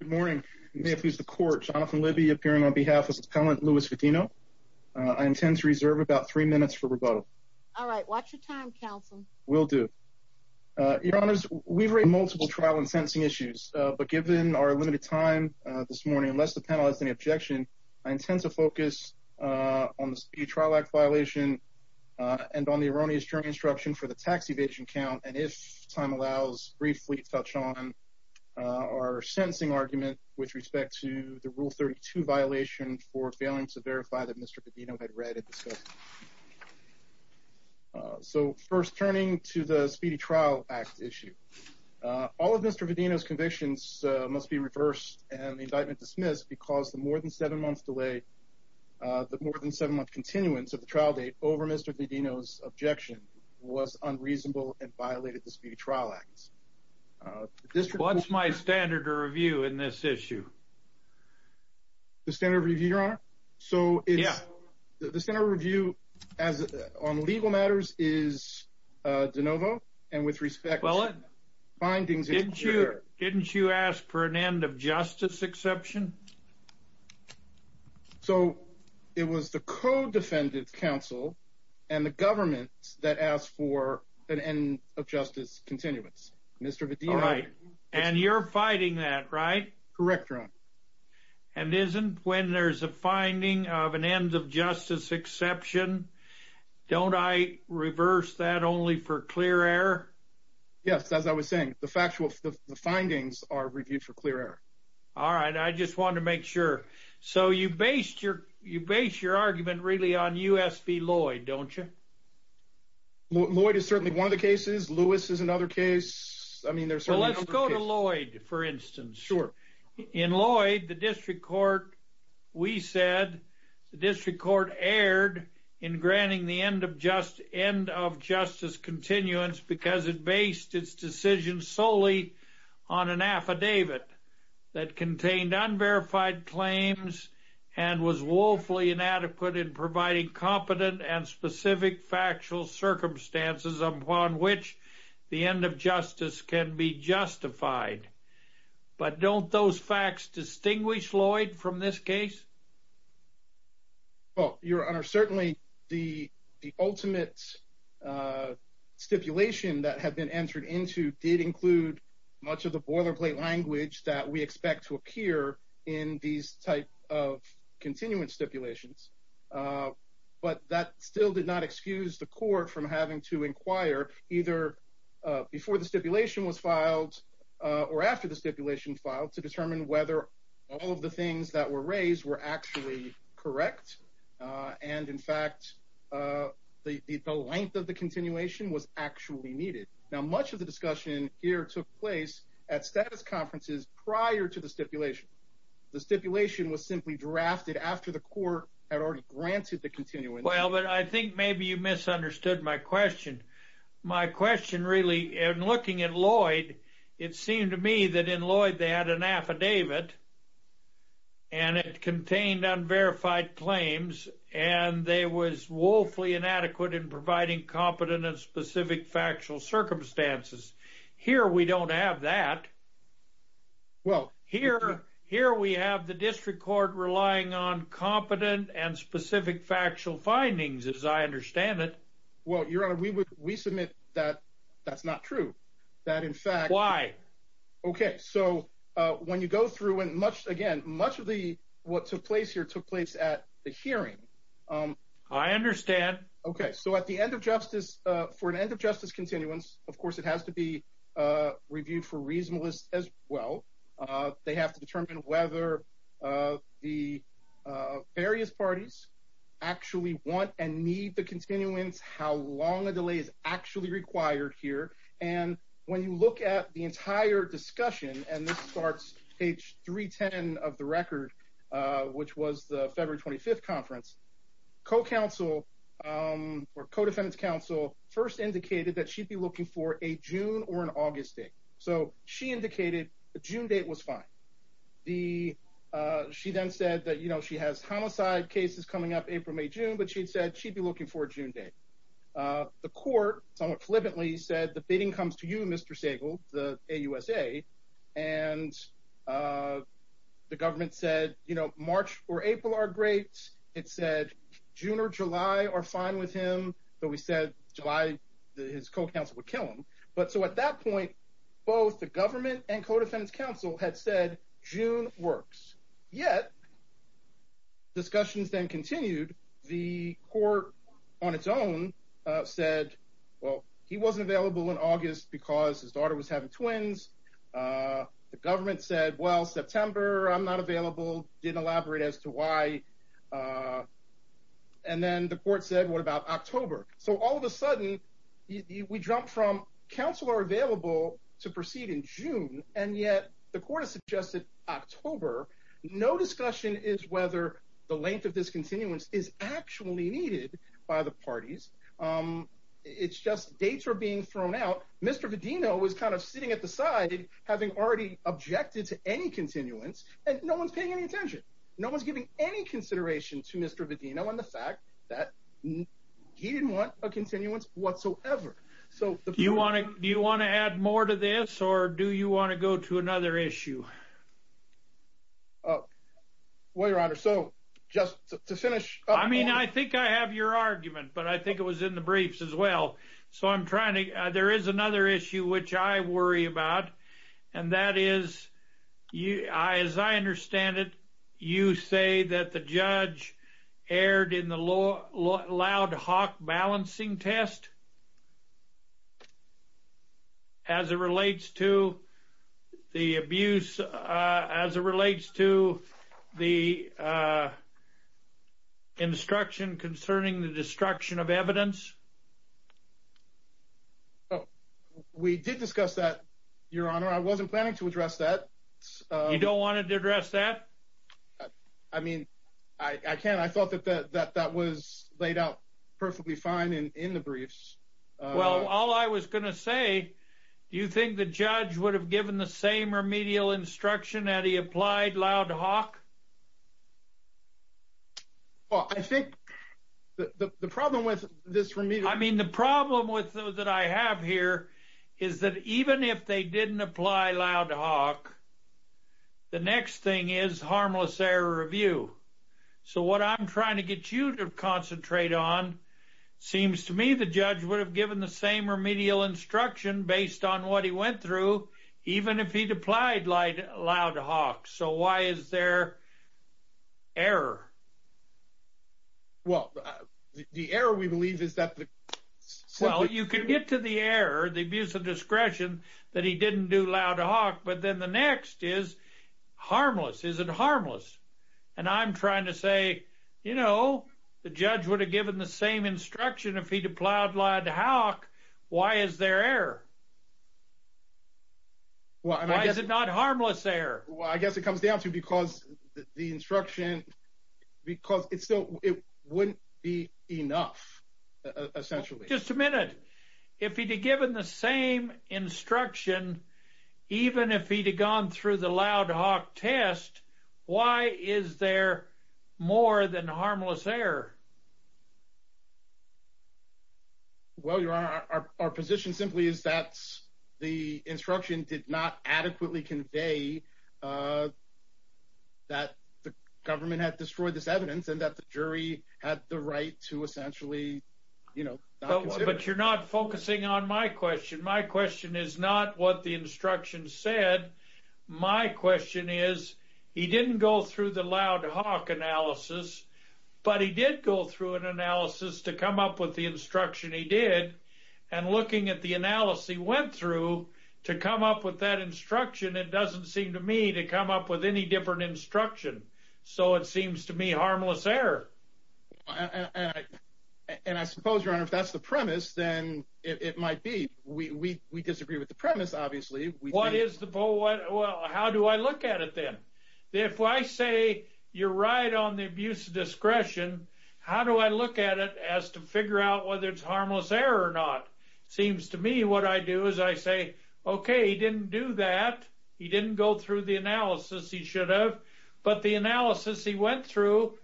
Good morning, may it please the court, Jonathan Libby appearing on behalf of his appellant Louis Vadino. I intend to reserve about three minutes for rebuttal. All right, watch your time, counsel. Will do. Your honors, we've read multiple trial and sentencing issues, but given our limited time this morning, unless the panel has any objection, I intend to focus on the Speed Trial Act violation and on the erroneous jury instruction for the tax fleet touch on our sentencing argument with respect to the Rule 32 violation for failing to verify that Mr. Vadino had read it. So first turning to the Speedy Trial Act issue, all of Mr. Vadino's convictions must be reversed and the indictment dismissed because the more than seven months delay, the more than seven month continuance of the trial date over Mr. Vadino's trial acts. What's my standard of review in this issue? The standard of review, your honor? So yeah, the standard of review as on legal matters is de novo and with respect to findings. Didn't you ask for an end of justice exception? So it was the co-defendant counsel and the government that asked for an end of justice continuance, Mr. Vadino. And you're fighting that, right? Correct, your honor. And isn't when there's a finding of an end of justice exception, don't I reverse that only for clear error? Yes, as I was saying, the factual, the findings are reviewed for clear error. All right, I just wanted to make sure. So you based your argument really on U.S. v. Lloyd, don't you? Lloyd is certainly one of the cases. Lewis is another case. I mean, there's certainly other cases. Well, let's go to Lloyd, for instance. Sure. In Lloyd, the district court, we said the district court erred in granting the end of justice continuance because it based its decision solely on an affidavit that contained unverified claims and was woefully inadequate in providing competent and specific factual circumstances upon which the end of justice can be justified. But don't those facts distinguish Lloyd from this case? Well, your honor, certainly the ultimate stipulation that had been entered into did not include these type of continuance stipulations. But that still did not excuse the court from having to inquire either before the stipulation was filed or after the stipulation filed to determine whether all of the things that were raised were actually correct. And in fact, the length of the continuation was actually needed. Now, much of the discussion here took place at status conferences prior to the stipulation. The stipulation was simply drafted after the court had already granted the continuance. Well, but I think maybe you misunderstood my question. My question really, in looking at Lloyd, it seemed to me that in Lloyd, they had an affidavit and it contained unverified claims and they was woefully inadequate in providing competent and Well, here we have the district court relying on competent and specific factual findings, as I understand it. Well, your honor, we submit that that's not true. Why? Okay, so when you go through and much again, much of what took place here took place at the hearing. I understand. Okay, so at the end of justice, for an end of justice continuance, of course, it has to be reviewed for reasonableness as well. They have to determine whether the various parties actually want and need the continuance, how long a delay is actually required here. And when you look at the entire discussion and this starts page 310 of the record, which was the February 25th conference, co-counsel or co-defendants counsel first indicated that she'd be looking for a June or an August date. So she indicated the June date was fine. She then said that, you know, she has homicide cases coming up April, May, June, but she'd said she'd be looking for a June date. The court somewhat flippantly said the bidding comes to you, Mr. Sagal, the AUSA. And the government said, you know, March or April are great. It said June or July are fine with him, but we said July, his co-counsel would kill him. But so at that point, both the government and co-defendants counsel had said June works, yet discussions then continued. The court on its own said, well, he wasn't available in August because his daughter was having twins. The government said, well, September, I'm not available, didn't elaborate as to why. And then the court said, what about October? So all of a sudden we jumped from counsel are available to proceed in June. And yet the court has suggested October. No discussion is whether the length of this continuance is actually needed by the parties. It's just dates are being thrown out. Mr. Vedino was kind of sitting at the side, having already objected to any continuance and no one's paying any attention. No one's giving any consideration to Mr. Vedino on the fact that he didn't want a continuance whatsoever. So you want to, do you want to add more to this or do you want to go to another issue? Oh, well, your honor. So just to finish, I mean, I think I have your argument, but I think it was in the briefs as well. So I'm trying to, there is another issue, which I worry about. And that is you, I, as I understand it, you say that the judge aired in the law loud Hawk balancing test as it relates to the abuse, as it relates to the instruction concerning the destruction of evidence. Oh, we did discuss that. Your honor. I wasn't planning to address that. You don't want it to address that. I mean, I can't, I thought that that, that, that was laid out perfectly fine in the briefs. Well, all I was going to say, do you think the judge would have given the same remedial instruction that he applied loud Hawk? Well, I think the, the, the problem with this for me, I mean, the problem with those that I have here is that even if they didn't apply loud Hawk, the next thing is harmless error review. So what I'm trying to get you to concentrate on seems to me, the judge would have given the same remedial instruction based on what he went through, even if he'd applied light loud Hawk. So why is there error? Well, the error we believe is that the, well, you can get to the air, the abuse of discretion that he didn't do loud Hawk, but then the next is harmless. Is it harmless? And I'm trying to say, you know, the judge would have given the same instruction if he'd applied loud Hawk. Why is there error? Well, I guess it's not harmless there. Well, I guess it comes down to because the instruction, because it's still, it wouldn't be enough essentially. Just a minute. If he'd be given the same instruction, even if he'd have gone through the loud Hawk test, why is there more than harmless there? Well, your honor, our position simply is that the instruction did not adequately convey that the government had destroyed this evidence and that the jury had the right to essentially, you know, but you're not focusing on my question. My question is not what the instruction said. My question is he didn't go through the loud Hawk analysis, but he did go through an analysis to come up with the instruction he did and looking at the analysis he went through to come up with that instruction. It doesn't seem to me to come up with any different instruction. So it seems to me harmless error. And I suppose your honor, if that's the premise, then it might be. We disagree with the premise, obviously. How do I look at it then? If I say you're right on the abuse of discretion, how do I look at it as to figure out whether it's harmless error or not? Seems to me what I do is I say, okay, he didn't do that. He didn't go through the analysis he should have, but the analysis he went through,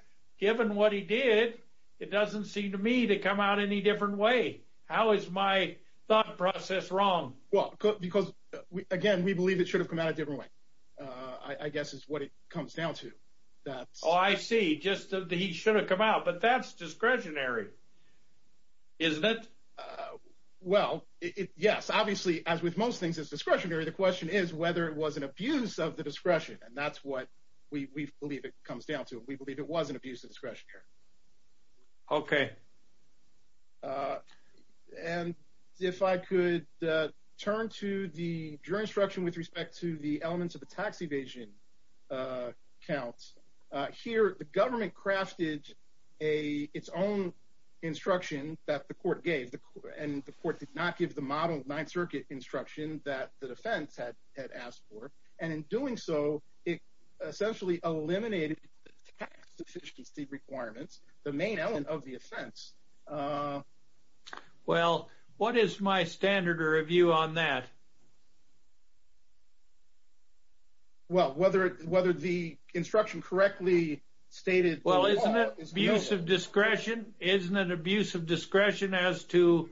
given what he did, it doesn't seem to me to come out any different way. How is my thought process wrong? Well, because again, we believe it should have come out a different way. I guess is what it comes down to that. Oh, I see. Just that he should have come out, but that's discretionary, isn't it? Well, yes, obviously, as with most things, it's discretionary. The question is whether it was an abuse of the discretion, and that's what we believe it comes down to. We believe it was an abuse of discretionary. Okay. And if I could turn to the jury instruction with respect to the elements of the tax evasion counts. Here, the government crafted its own instruction that the court gave, and the court did not give the model of Ninth Circuit instruction that the defense had asked for. And in doing so, it essentially eliminated the tax efficiency requirements, the main element of the offense. Well, what is my standard of review on that? Well, whether the instruction correctly stated... Well, isn't it abuse of discretion? Isn't it abuse of discretion as to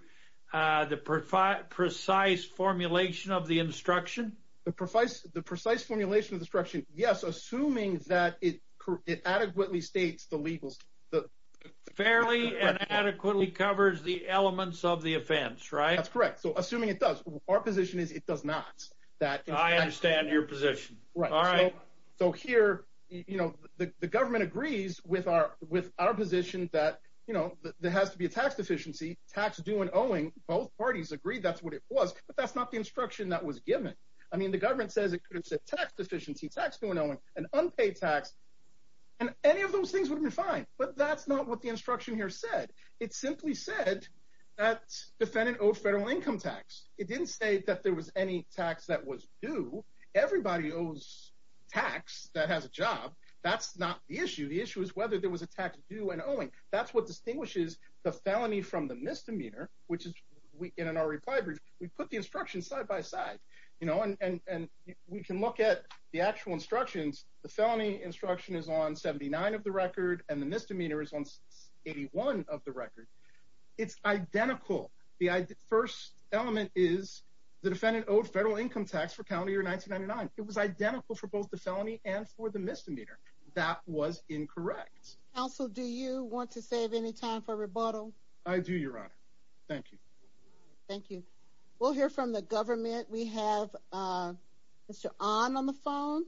the precise formulation of the instruction? The precise formulation of the instruction, yes, assuming that it adequately states the legal... Fairly and adequately covers the elements of the offense, right? That's correct. So assuming it does, our position is it does not. I understand your position. All right. So here, the government agrees with our position that there has to be a tax deficiency, tax due and owing, both parties agree that's what it was, but that's not the instruction that was unpaid tax. And any of those things would be fine, but that's not what the instruction here said. It simply said that defendant owed federal income tax. It didn't say that there was any tax that was due. Everybody owes tax that has a job. That's not the issue. The issue is whether there was a tax due and owing. That's what distinguishes the felony from the misdemeanor, which is in our reply brief, we put the instruction side by side, and we can look at the actual instructions. The felony instruction is on 79 of the record, and the misdemeanor is on 81 of the record. It's identical. The first element is the defendant owed federal income tax for county year 1999. It was identical for both the felony and for the misdemeanor. That was incorrect. Counsel, do you want to save any time for rebuttal? I do, Your Honor. Thank you. Thank you. We'll hear from the government. We have Mr. Ahn on the phone.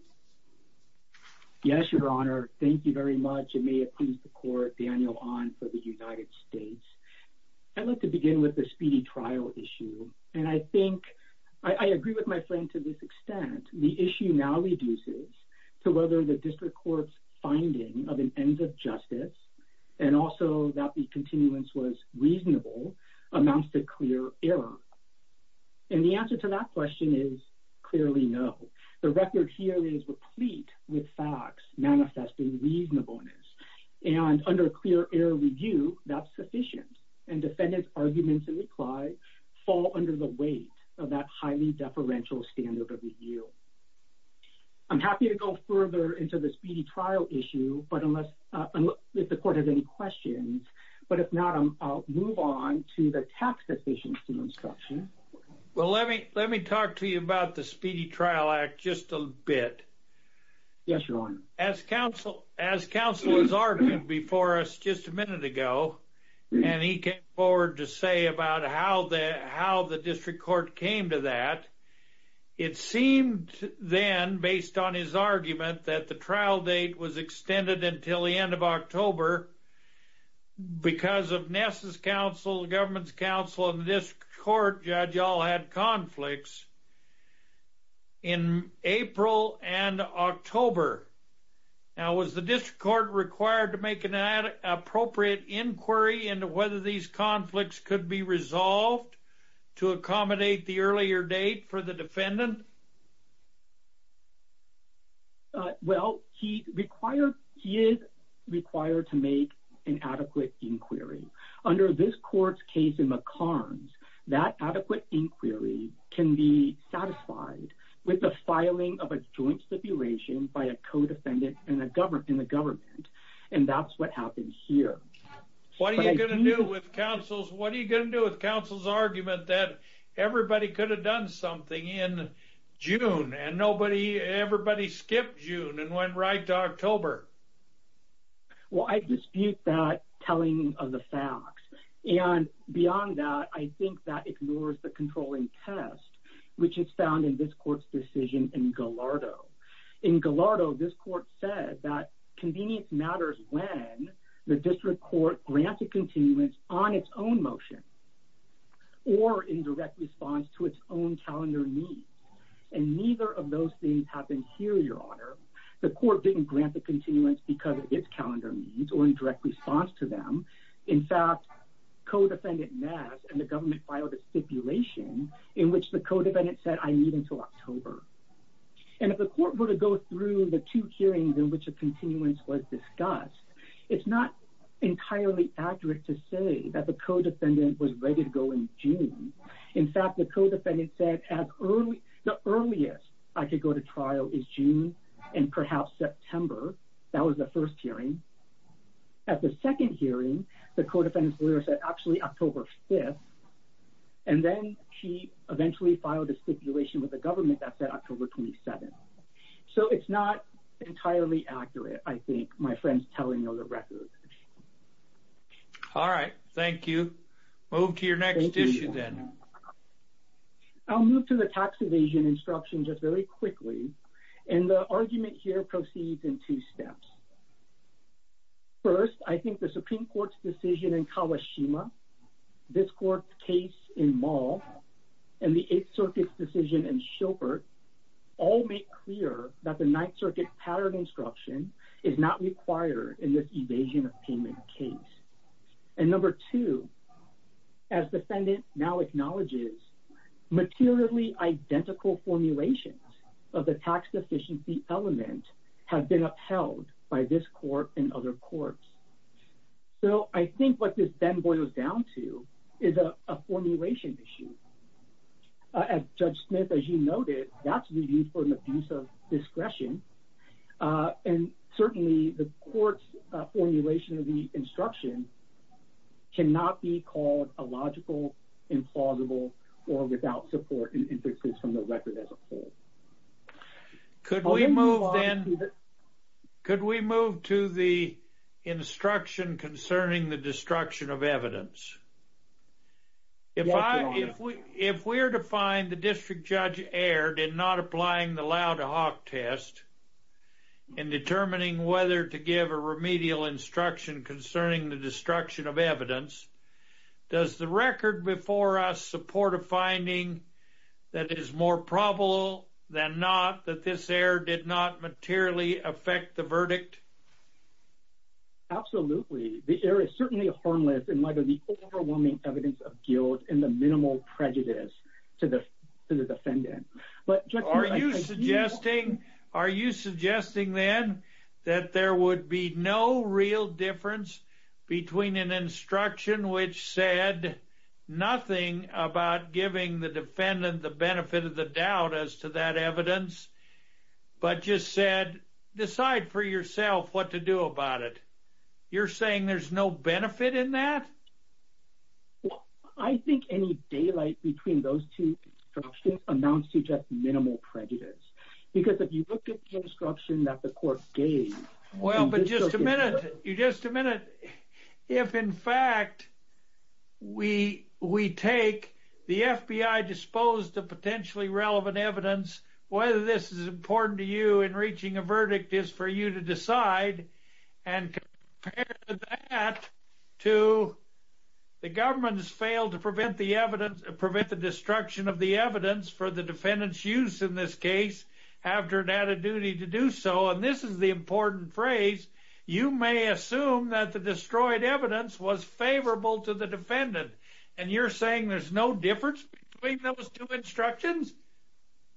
Yes, Your Honor. Thank you very much. It may have pleased the court, Daniel Ahn for the United States. I'd like to begin with the speedy trial issue, and I think I agree with my friend to this extent. The issue now reduces to whether the district court's finding of an ends of justice and also that the continuance was reasonable amounts to clear error, and the answer to that question is clearly no. The record here is replete with facts manifesting reasonableness, and under clear error review, that's sufficient, and defendant's arguments and reply fall under the weight of that highly deferential standard of review. I'm happy to go further into the questions, but if not, I'll move on to the tax deficiency instruction. Well, let me talk to you about the Speedy Trial Act just a bit. Yes, Your Honor. As counsel has argued before us just a minute ago, and he came forward to say about how the district court came to that, it seemed then, based on his argument, that the trial date was extended until the end of October because of Ness's counsel, the government's counsel, and the district court judge all had conflicts in April and October. Now, was the district court required to make an appropriate inquiry into whether these conflicts could be resolved to accommodate the earlier date for the defendant? Well, he is required to make an adequate inquiry. Under this court's case in McCarns, that adequate inquiry can be satisfied with the filing of a joint stipulation by a co-defendant in the government, and that's what happened here. What are you going to do with counsel's argument that everybody could have done something in June and everybody skipped June and went right to October? Well, I dispute that telling of the facts, and beyond that, I think that ignores the controlling test, which is found in this court's decision in Gallardo. In Gallardo, this court said that convenience matters when the district court grants a continuance on its own motion or in direct response to its own calendar needs, and neither of those things happened here, Your Honor. The court didn't grant the continuance because of its calendar needs or in direct response to them. In fact, co-defendant Ness and the government filed a stipulation in which the co-defendant said, I need until October, and if the court were to go through the two hearings in which continuance was discussed, it's not entirely accurate to say that the co-defendant was ready to go in June. In fact, the co-defendant said the earliest I could go to trial is June and perhaps September. That was the first hearing. At the second hearing, the co-defendant's lawyer said actually October 5th, and then she eventually filed a stipulation with the government that said October 27th. So it's not entirely accurate, I think, my friend's telling you on the record. All right, thank you. Move to your next issue then. I'll move to the tax evasion instruction just very quickly, and the argument here proceeds in two steps. First, I think the Supreme Court's decision in Kawashima, this court's case in Mall, and the all make clear that the Ninth Circuit pattern instruction is not required in this evasion of payment case. And number two, as defendant now acknowledges, materially identical formulations of the tax deficiency element have been upheld by this court and other courts. So I think what this then boils down to is a formulation issue. As Judge Smith, as you noted, that's reviewed for an abuse of discretion. And certainly the court's formulation of the instruction cannot be called illogical, implausible, or without support and inferences from the record as a whole. Could we move to the instruction concerning the error did not applying the loud hawk test in determining whether to give a remedial instruction concerning the destruction of evidence? Does the record before us support a finding that it is more probable than not that this error did not materially affect the verdict? Absolutely. The error is certainly harmless in light of the overwhelming evidence of guilt and the minimal prejudice to the defendant. Are you suggesting then that there would be no real difference between an instruction which said nothing about giving the defendant the benefit of the doubt as to that evidence, but just said, decide for yourself what to do about it. You're saying there's no benefit in that? I think any daylight between those two instructions amounts to just minimal prejudice. Because if you look at the instruction that the court gave... Well, but just a minute, just a minute. If in fact, we take the FBI disposed of potentially relevant evidence, whether this is important to you in reaching a verdict is for you to decide and compare that to the government's failed to prevent the evidence, prevent the destruction of the evidence for the defendant's use in this case, after an added duty to do so. And this is the important phrase, you may assume that the destroyed evidence was favorable to the defendant. And you're saying there's no difference between those two instructions?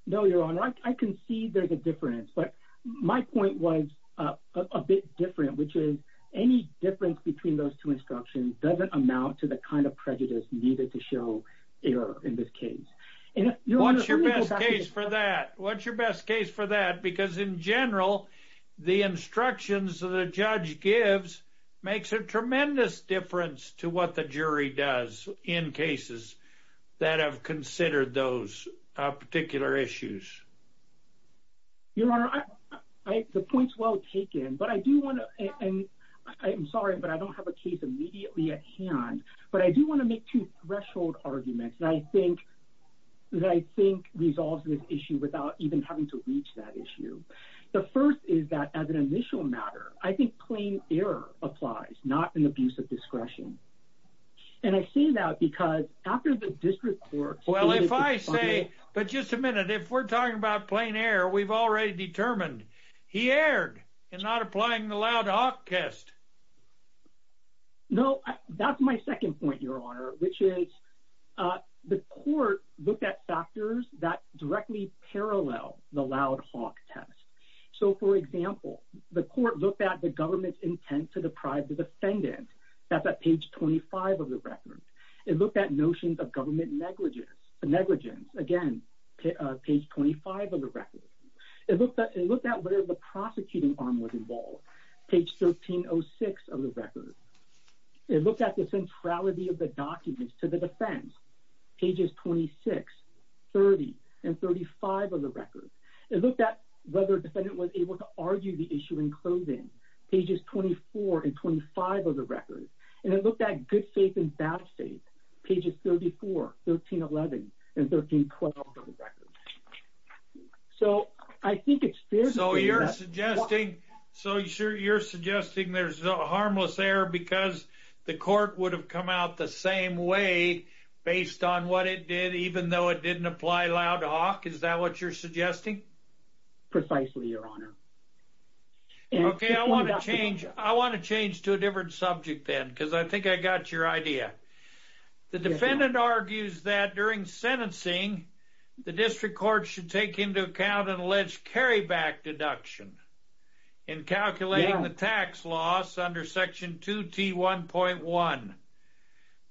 No, your honor, I can see there's a difference. But my point was a bit different, which is any difference between those two instructions doesn't amount to the kind of prejudice needed to show error in this case. What's your best case for that? What's your best case for that? Because in general, the instructions that a judge gives makes a tremendous difference to what the jury does in cases that have considered those particular issues. Your honor, I the points well taken, but I do want to and I'm sorry, but I don't have a case immediately at hand. But I do want to make two threshold arguments. And I think that I think resolves this issue without even having to reach that issue. The first is that as an initial matter, I think plain error applies, not an abuse of discretion. And I say that because after the Well, if I say, but just a minute, if we're talking about plain error, we've already determined he erred and not applying the loud hawk test. No, that's my second point, your honor, which is the court looked at factors that directly parallel the loud hawk test. So for example, the court looked at the government's intent to negligence, again, page 25 of the record. It looked at whether the prosecuting arm was involved, page 1306 of the record. It looked at the centrality of the documents to the defense, pages 26, 30, and 35 of the record. It looked at whether defendant was able to argue the issue in 1311 and 1312 of the record. So I think it's fair. So you're suggesting there's a harmless error because the court would have come out the same way based on what it did, even though it didn't apply loud hawk? Is that what you're suggesting? Precisely, your honor. Okay, I want to change to a different subject then because I think I got your idea. The defendant argues that during sentencing, the district court should take into account an alleged carryback deduction in calculating the tax loss under section 2T1.1.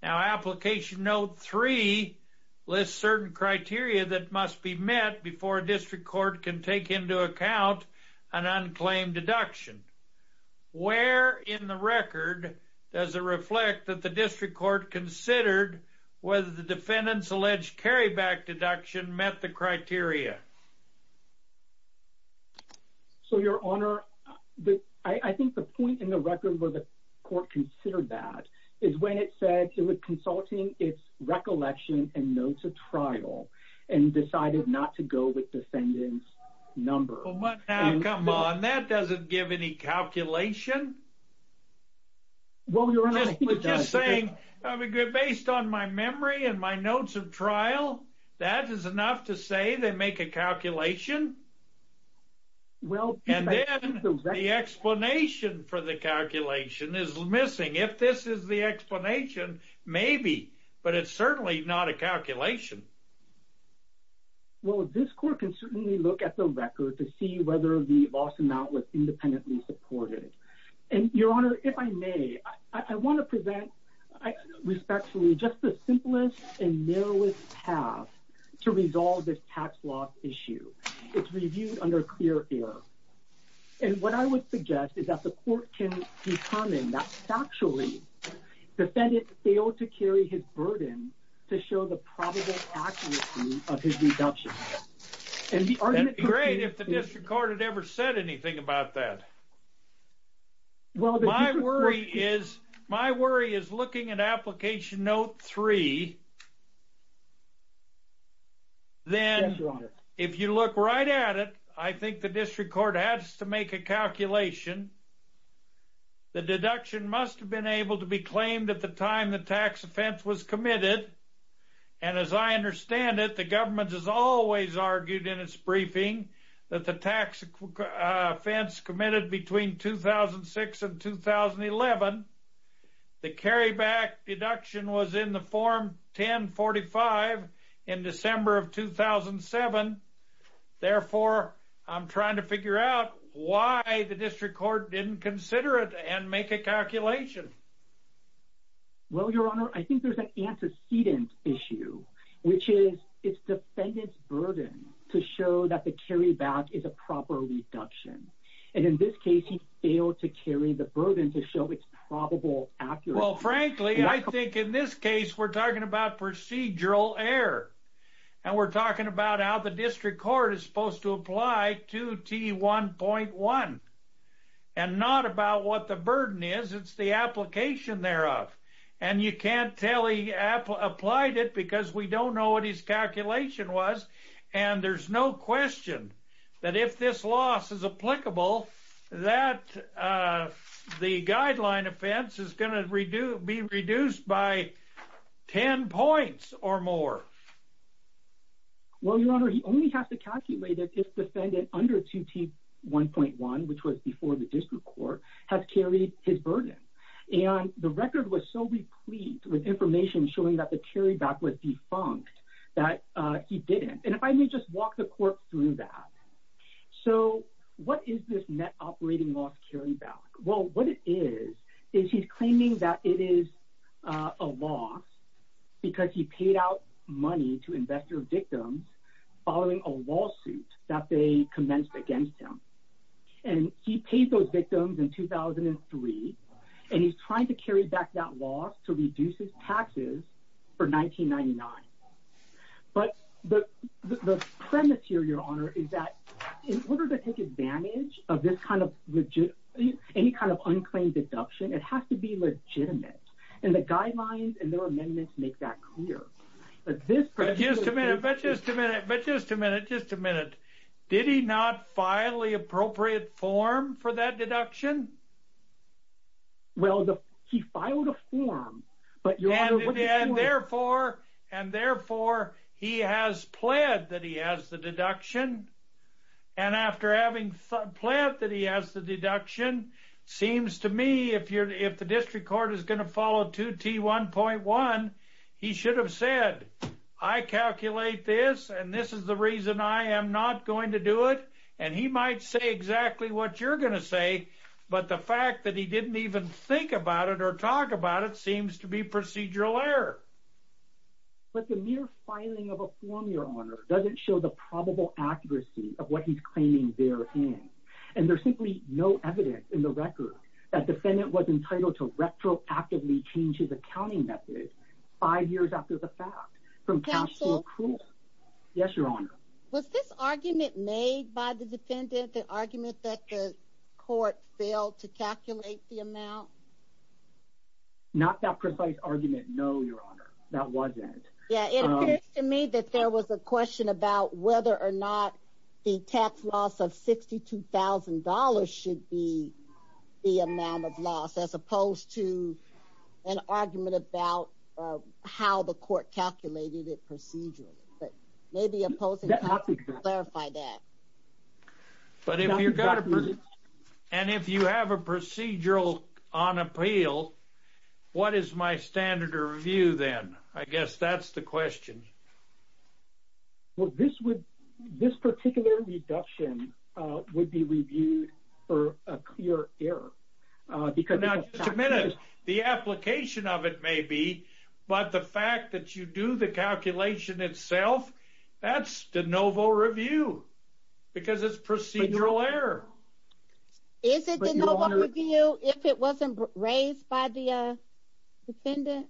Now, application note 3 lists certain criteria that must be met before a district court can take into account an unclaimed deduction. Where in the record does it reflect that the district court considered whether the defendant's alleged carryback deduction met the criteria? So, your honor, I think the point in the record where the court considered that is when it said it was consulting its recollection and notes of trial and decided not to go with defendant's number. Now, come on, that doesn't give any calculation. Well, your honor, I think that's a good point. Based on my memory and my notes of trial, that is enough to say they make a calculation? Well, I think that's a good point. And then the explanation for the calculation is missing. If this is the explanation, maybe, but it's certainly not a calculation. Well, this court can certainly look at the record to see whether the loss amount was independently supported. And your honor, if I may, I want to present respectfully just the simplest and narrowest path to resolve this tax loss issue. It's reviewed under clear air. And what I would suggest is that the court can determine that factually, defendant failed to carry his burden to show the probable accuracy of his deduction. And the argument could be great if the district court had ever said anything about that. Well, my worry is, my worry is looking at application note three. Then if you look right at it, I think the district court has to make a calculation. The deduction must have been able to be claimed at the time the tax offense was committed. And as I understand it, the government has always argued in its briefing that the tax offense committed between 2006 and 2011. The carryback deduction was in the form 1045 in December of 2007. Therefore, I'm trying to figure out why the district court didn't consider it and make a calculation. Well, your honor, I think there's an antecedent issue, which is it's defendant's burden to show that the carryback is a proper reduction. And in this case, he failed to carry the burden to show it's probable. Well, frankly, I think in this case, we're talking about procedural error. And we're talking about how the district court is supposed to apply 2T1.1. And not about what the burden is, it's the application thereof. And you can't tell he applied it because we don't know what his calculation was. And there's no question that if this loss is applicable, that the guideline offense is going to be reduced by 10 points or more. Well, your honor, he only has to calculate it if defendant under 2T1.1, which was before the district court, has carried his burden. And the record was so replete with information showing that the carryback was defunct that he didn't. And if I may just walk the court through that. So what is this net operating loss carryback? Well, what it is, is he's claiming that it is a loss because he paid out money to investor victims following a lawsuit that they commenced against him. And he paid those victims in 2003. And he's trying to carry back that loss to reduce taxes for 1999. But the premise here, your honor, is that in order to take advantage of this kind of any kind of unclaimed deduction, it has to be legitimate. And the guidelines and their amendments make that clear. But just a minute, but just a minute, but just a minute, just a minute. Did he not file the appropriate form for that deduction? Well, he filed a form, but your honor, what do you do with it? And therefore, and therefore, he has pled that he has the deduction. And after having pled that he has the deduction, seems to me if the district court is going to follow 2T1.1, he should have said, I calculate this and this is the reason I am not going to do it. And he might say exactly what you're going to say. But the fact that he didn't even think about it or talk about it seems to be procedural error. But the mere filing of a form, your honor, doesn't show the probable accuracy of what he's claiming they're in. And there's simply no evidence in the record that defendant was entitled to retroactively change his accounting method five years after the fact from cash to accrual. Yes, your honor. Was this argument made by the defendant, the argument that the court failed to calculate the amount? Not that precise argument, no, your honor. That wasn't. Yeah, it appears to me that there was a question about whether or not the tax loss of $62,000 should be the amount of loss as opposed to an argument about how the court calculated it But if you have a procedural on appeal, what is my standard of review then? I guess that's the question. Well, this particular reduction would be reviewed for a clear error because Now, just a minute. The application of it may be, but the fact that you do the calculation itself, that's de novo review because it's procedural error. Is it de novo review if it wasn't raised by the defendant?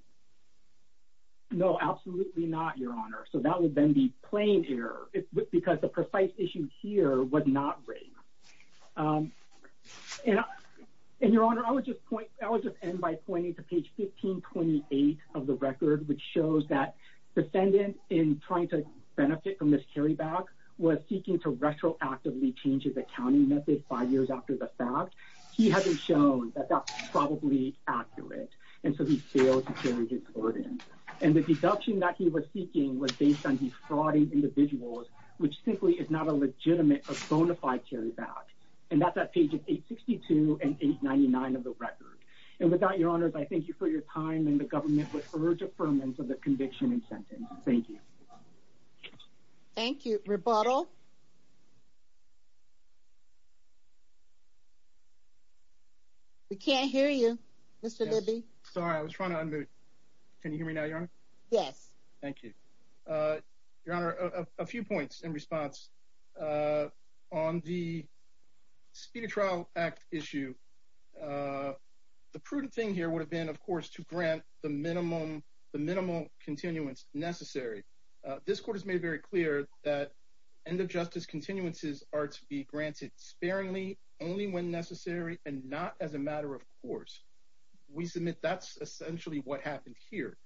No, absolutely not, your honor. So that would then be plain error because the precise issue here was not raised. And your honor, I would just end by pointing to page 1528 of the record, which shows that defendant in trying to benefit from this carryback was seeking to retroactively change his accounting method five years after the fact. He hasn't shown that that's probably accurate. And so he failed to carry his burden. And the deduction that he was seeking was based on these frauding individuals, which simply is not a legitimate or bona fide carryback. And that's at pages 862 and 899 of the record. And without your honors, I thank you for your time and the government would urge affirmance of the conviction and sentence. Thank you. Thank you. Rebuttal. We can't hear you, Mr. Bibby. Sorry, I was trying to unmute. Can you hear me now, your honor? Yes. Thank you. Your honor, a few points in response. On the speed of trial act issue, the prudent thing here would have been, of course, to grant the minimal continuance necessary. This court has made very clear that end of justice continuances are to be granted sparingly only when necessary and not as a matter of course. We submit that's essentially what happened here.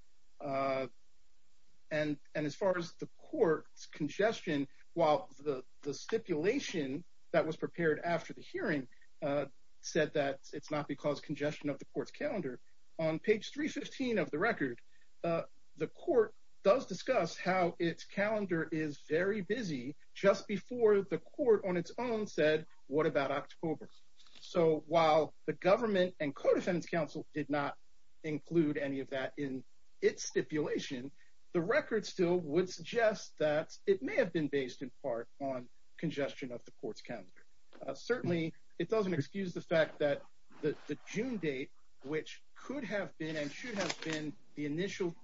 And as far as the court's congestion, while the stipulation that was it's not because congestion of the court's calendar on page 315 of the record, the court does discuss how its calendar is very busy just before the court on its own said, what about October? So while the government and codefendants council did not include any of that in its stipulation, the record still would suggest that it may have been based in part on congestion of the court's calendar. Certainly, it doesn't excuse the fact that the June date, which could have been and should have been the initial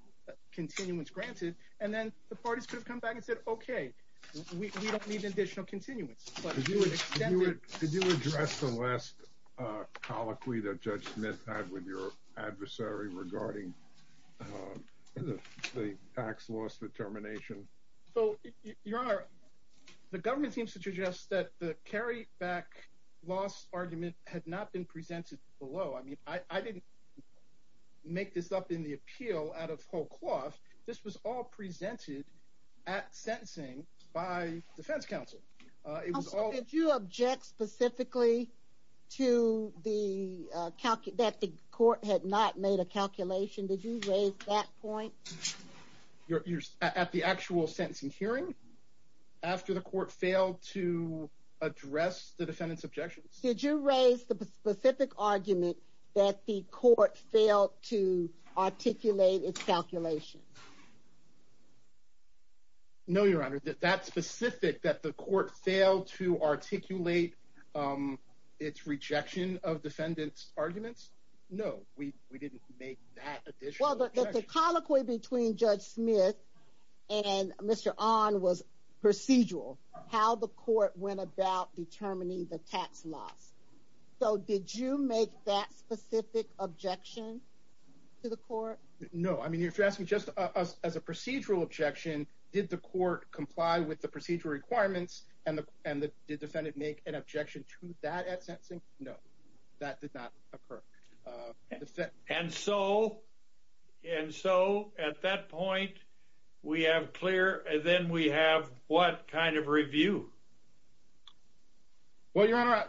continuance granted, and then the parties could have come back and said, okay, we don't need additional continuance. Could you address the last colloquy that Judge Smith had with your adversary regarding the tax loss determination? So, Your Honor, the government seems to suggest that the carry back loss argument had not been presented below. I mean, I didn't make this up in the appeal out of whole cloth. This was all presented at sentencing by defense counsel. Also, did you object specifically to the calculation that the court had not made a calculation? Did you raise that point? You're at the actual sentencing hearing after the court failed to address the defendant's objections. Did you raise the specific argument that the court failed to articulate its calculation? No, Your Honor, that specific that the court failed to articulate its rejection of defendant's no, we didn't make that additional colloquy between Judge Smith and Mr. On was procedural how the court went about determining the tax loss. So did you make that specific objection to the court? No, I mean, you're asking just us as a procedural objection. Did the court comply with the procedural requirements and the and the defendant make an objection to that at that? And so and so at that point, we have clear and then we have what kind of review? Well, Your Honor,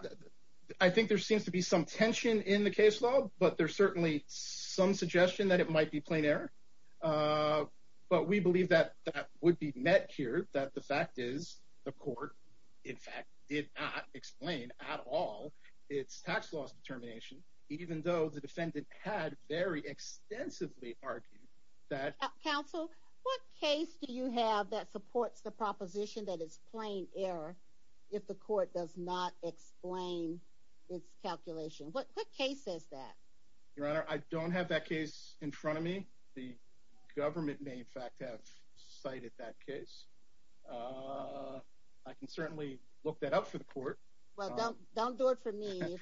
I think there seems to be some tension in the case law, but there's certainly some suggestion that it might be plain error. But we believe that that would be met here that the fact is the court, in fact, did not explain at all its tax loss determination, even though the defendant had very extensively argued that counsel, what case do you have that supports the proposition that is plain error? If the court does not explain its calculation, what case is that? Your Honor, I don't have that case in front of me. The government may in fact have cited that case. I can certainly look that up for the court. Well, don't don't do it for me.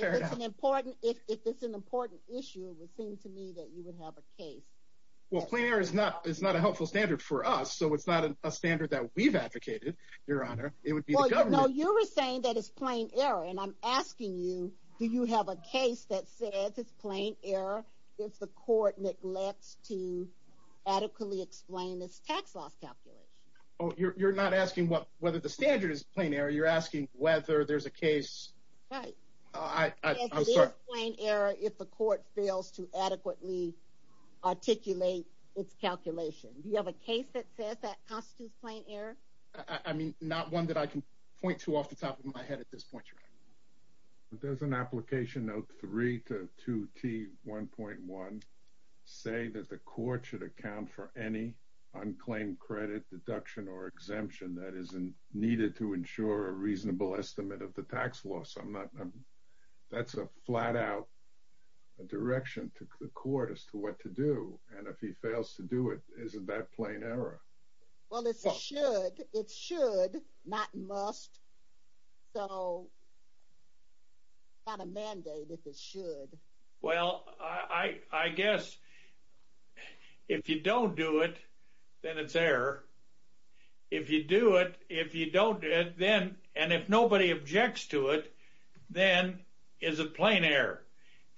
It's an important if it's an important issue, it would seem to me that you would have a case. Well, clear is not it's not a helpful standard for us. So it's not a standard that we've advocated. Your Honor, it would be. No, you were saying that it's plain error. And I'm asking you, do you have a case that says it's plain error if the court neglects to adequately explain this tax loss calculation? Oh, you're not asking what whether the standard is plain error, you're asking whether there's a case. Right. I'm sorry. It is plain error if the court fails to adequately articulate its calculation. Do you have a case that says that constitutes plain error? I mean, not one that I can point to off the top of my head at this point, Your Honor. Does an application note three to 2T1.1 say that the court should account for any unclaimed credit deduction or exemption that isn't needed to ensure a reasonable estimate of the tax loss? I'm not. That's a flat out direction to the court as to what to do. And if he fails to do it, isn't that plain error? Well, it's a should it should not must. So. It's not a mandate if it should. Well, I guess if you don't do it, then it's error. If you do it, if you don't do it, then and if nobody objects to it, then is a plain error.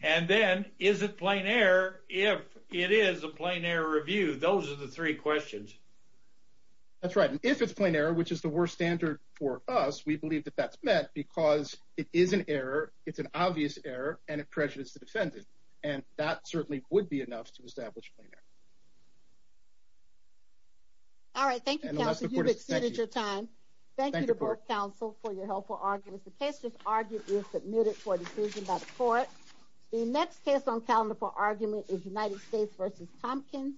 And then is it plain error if it is a plain error review? Those are the three questions. That's right. And if it's plain error, which is the worst standard for us, we believe that that's because it is an error. It's an obvious error and it prejudices the defendant, and that certainly would be enough to establish. All right, thank you for your time. Thank you to both counsel for your helpful arguments. The case was argued and submitted for a decision by the court. The next case on calendar for argument is United States v. Tompkins.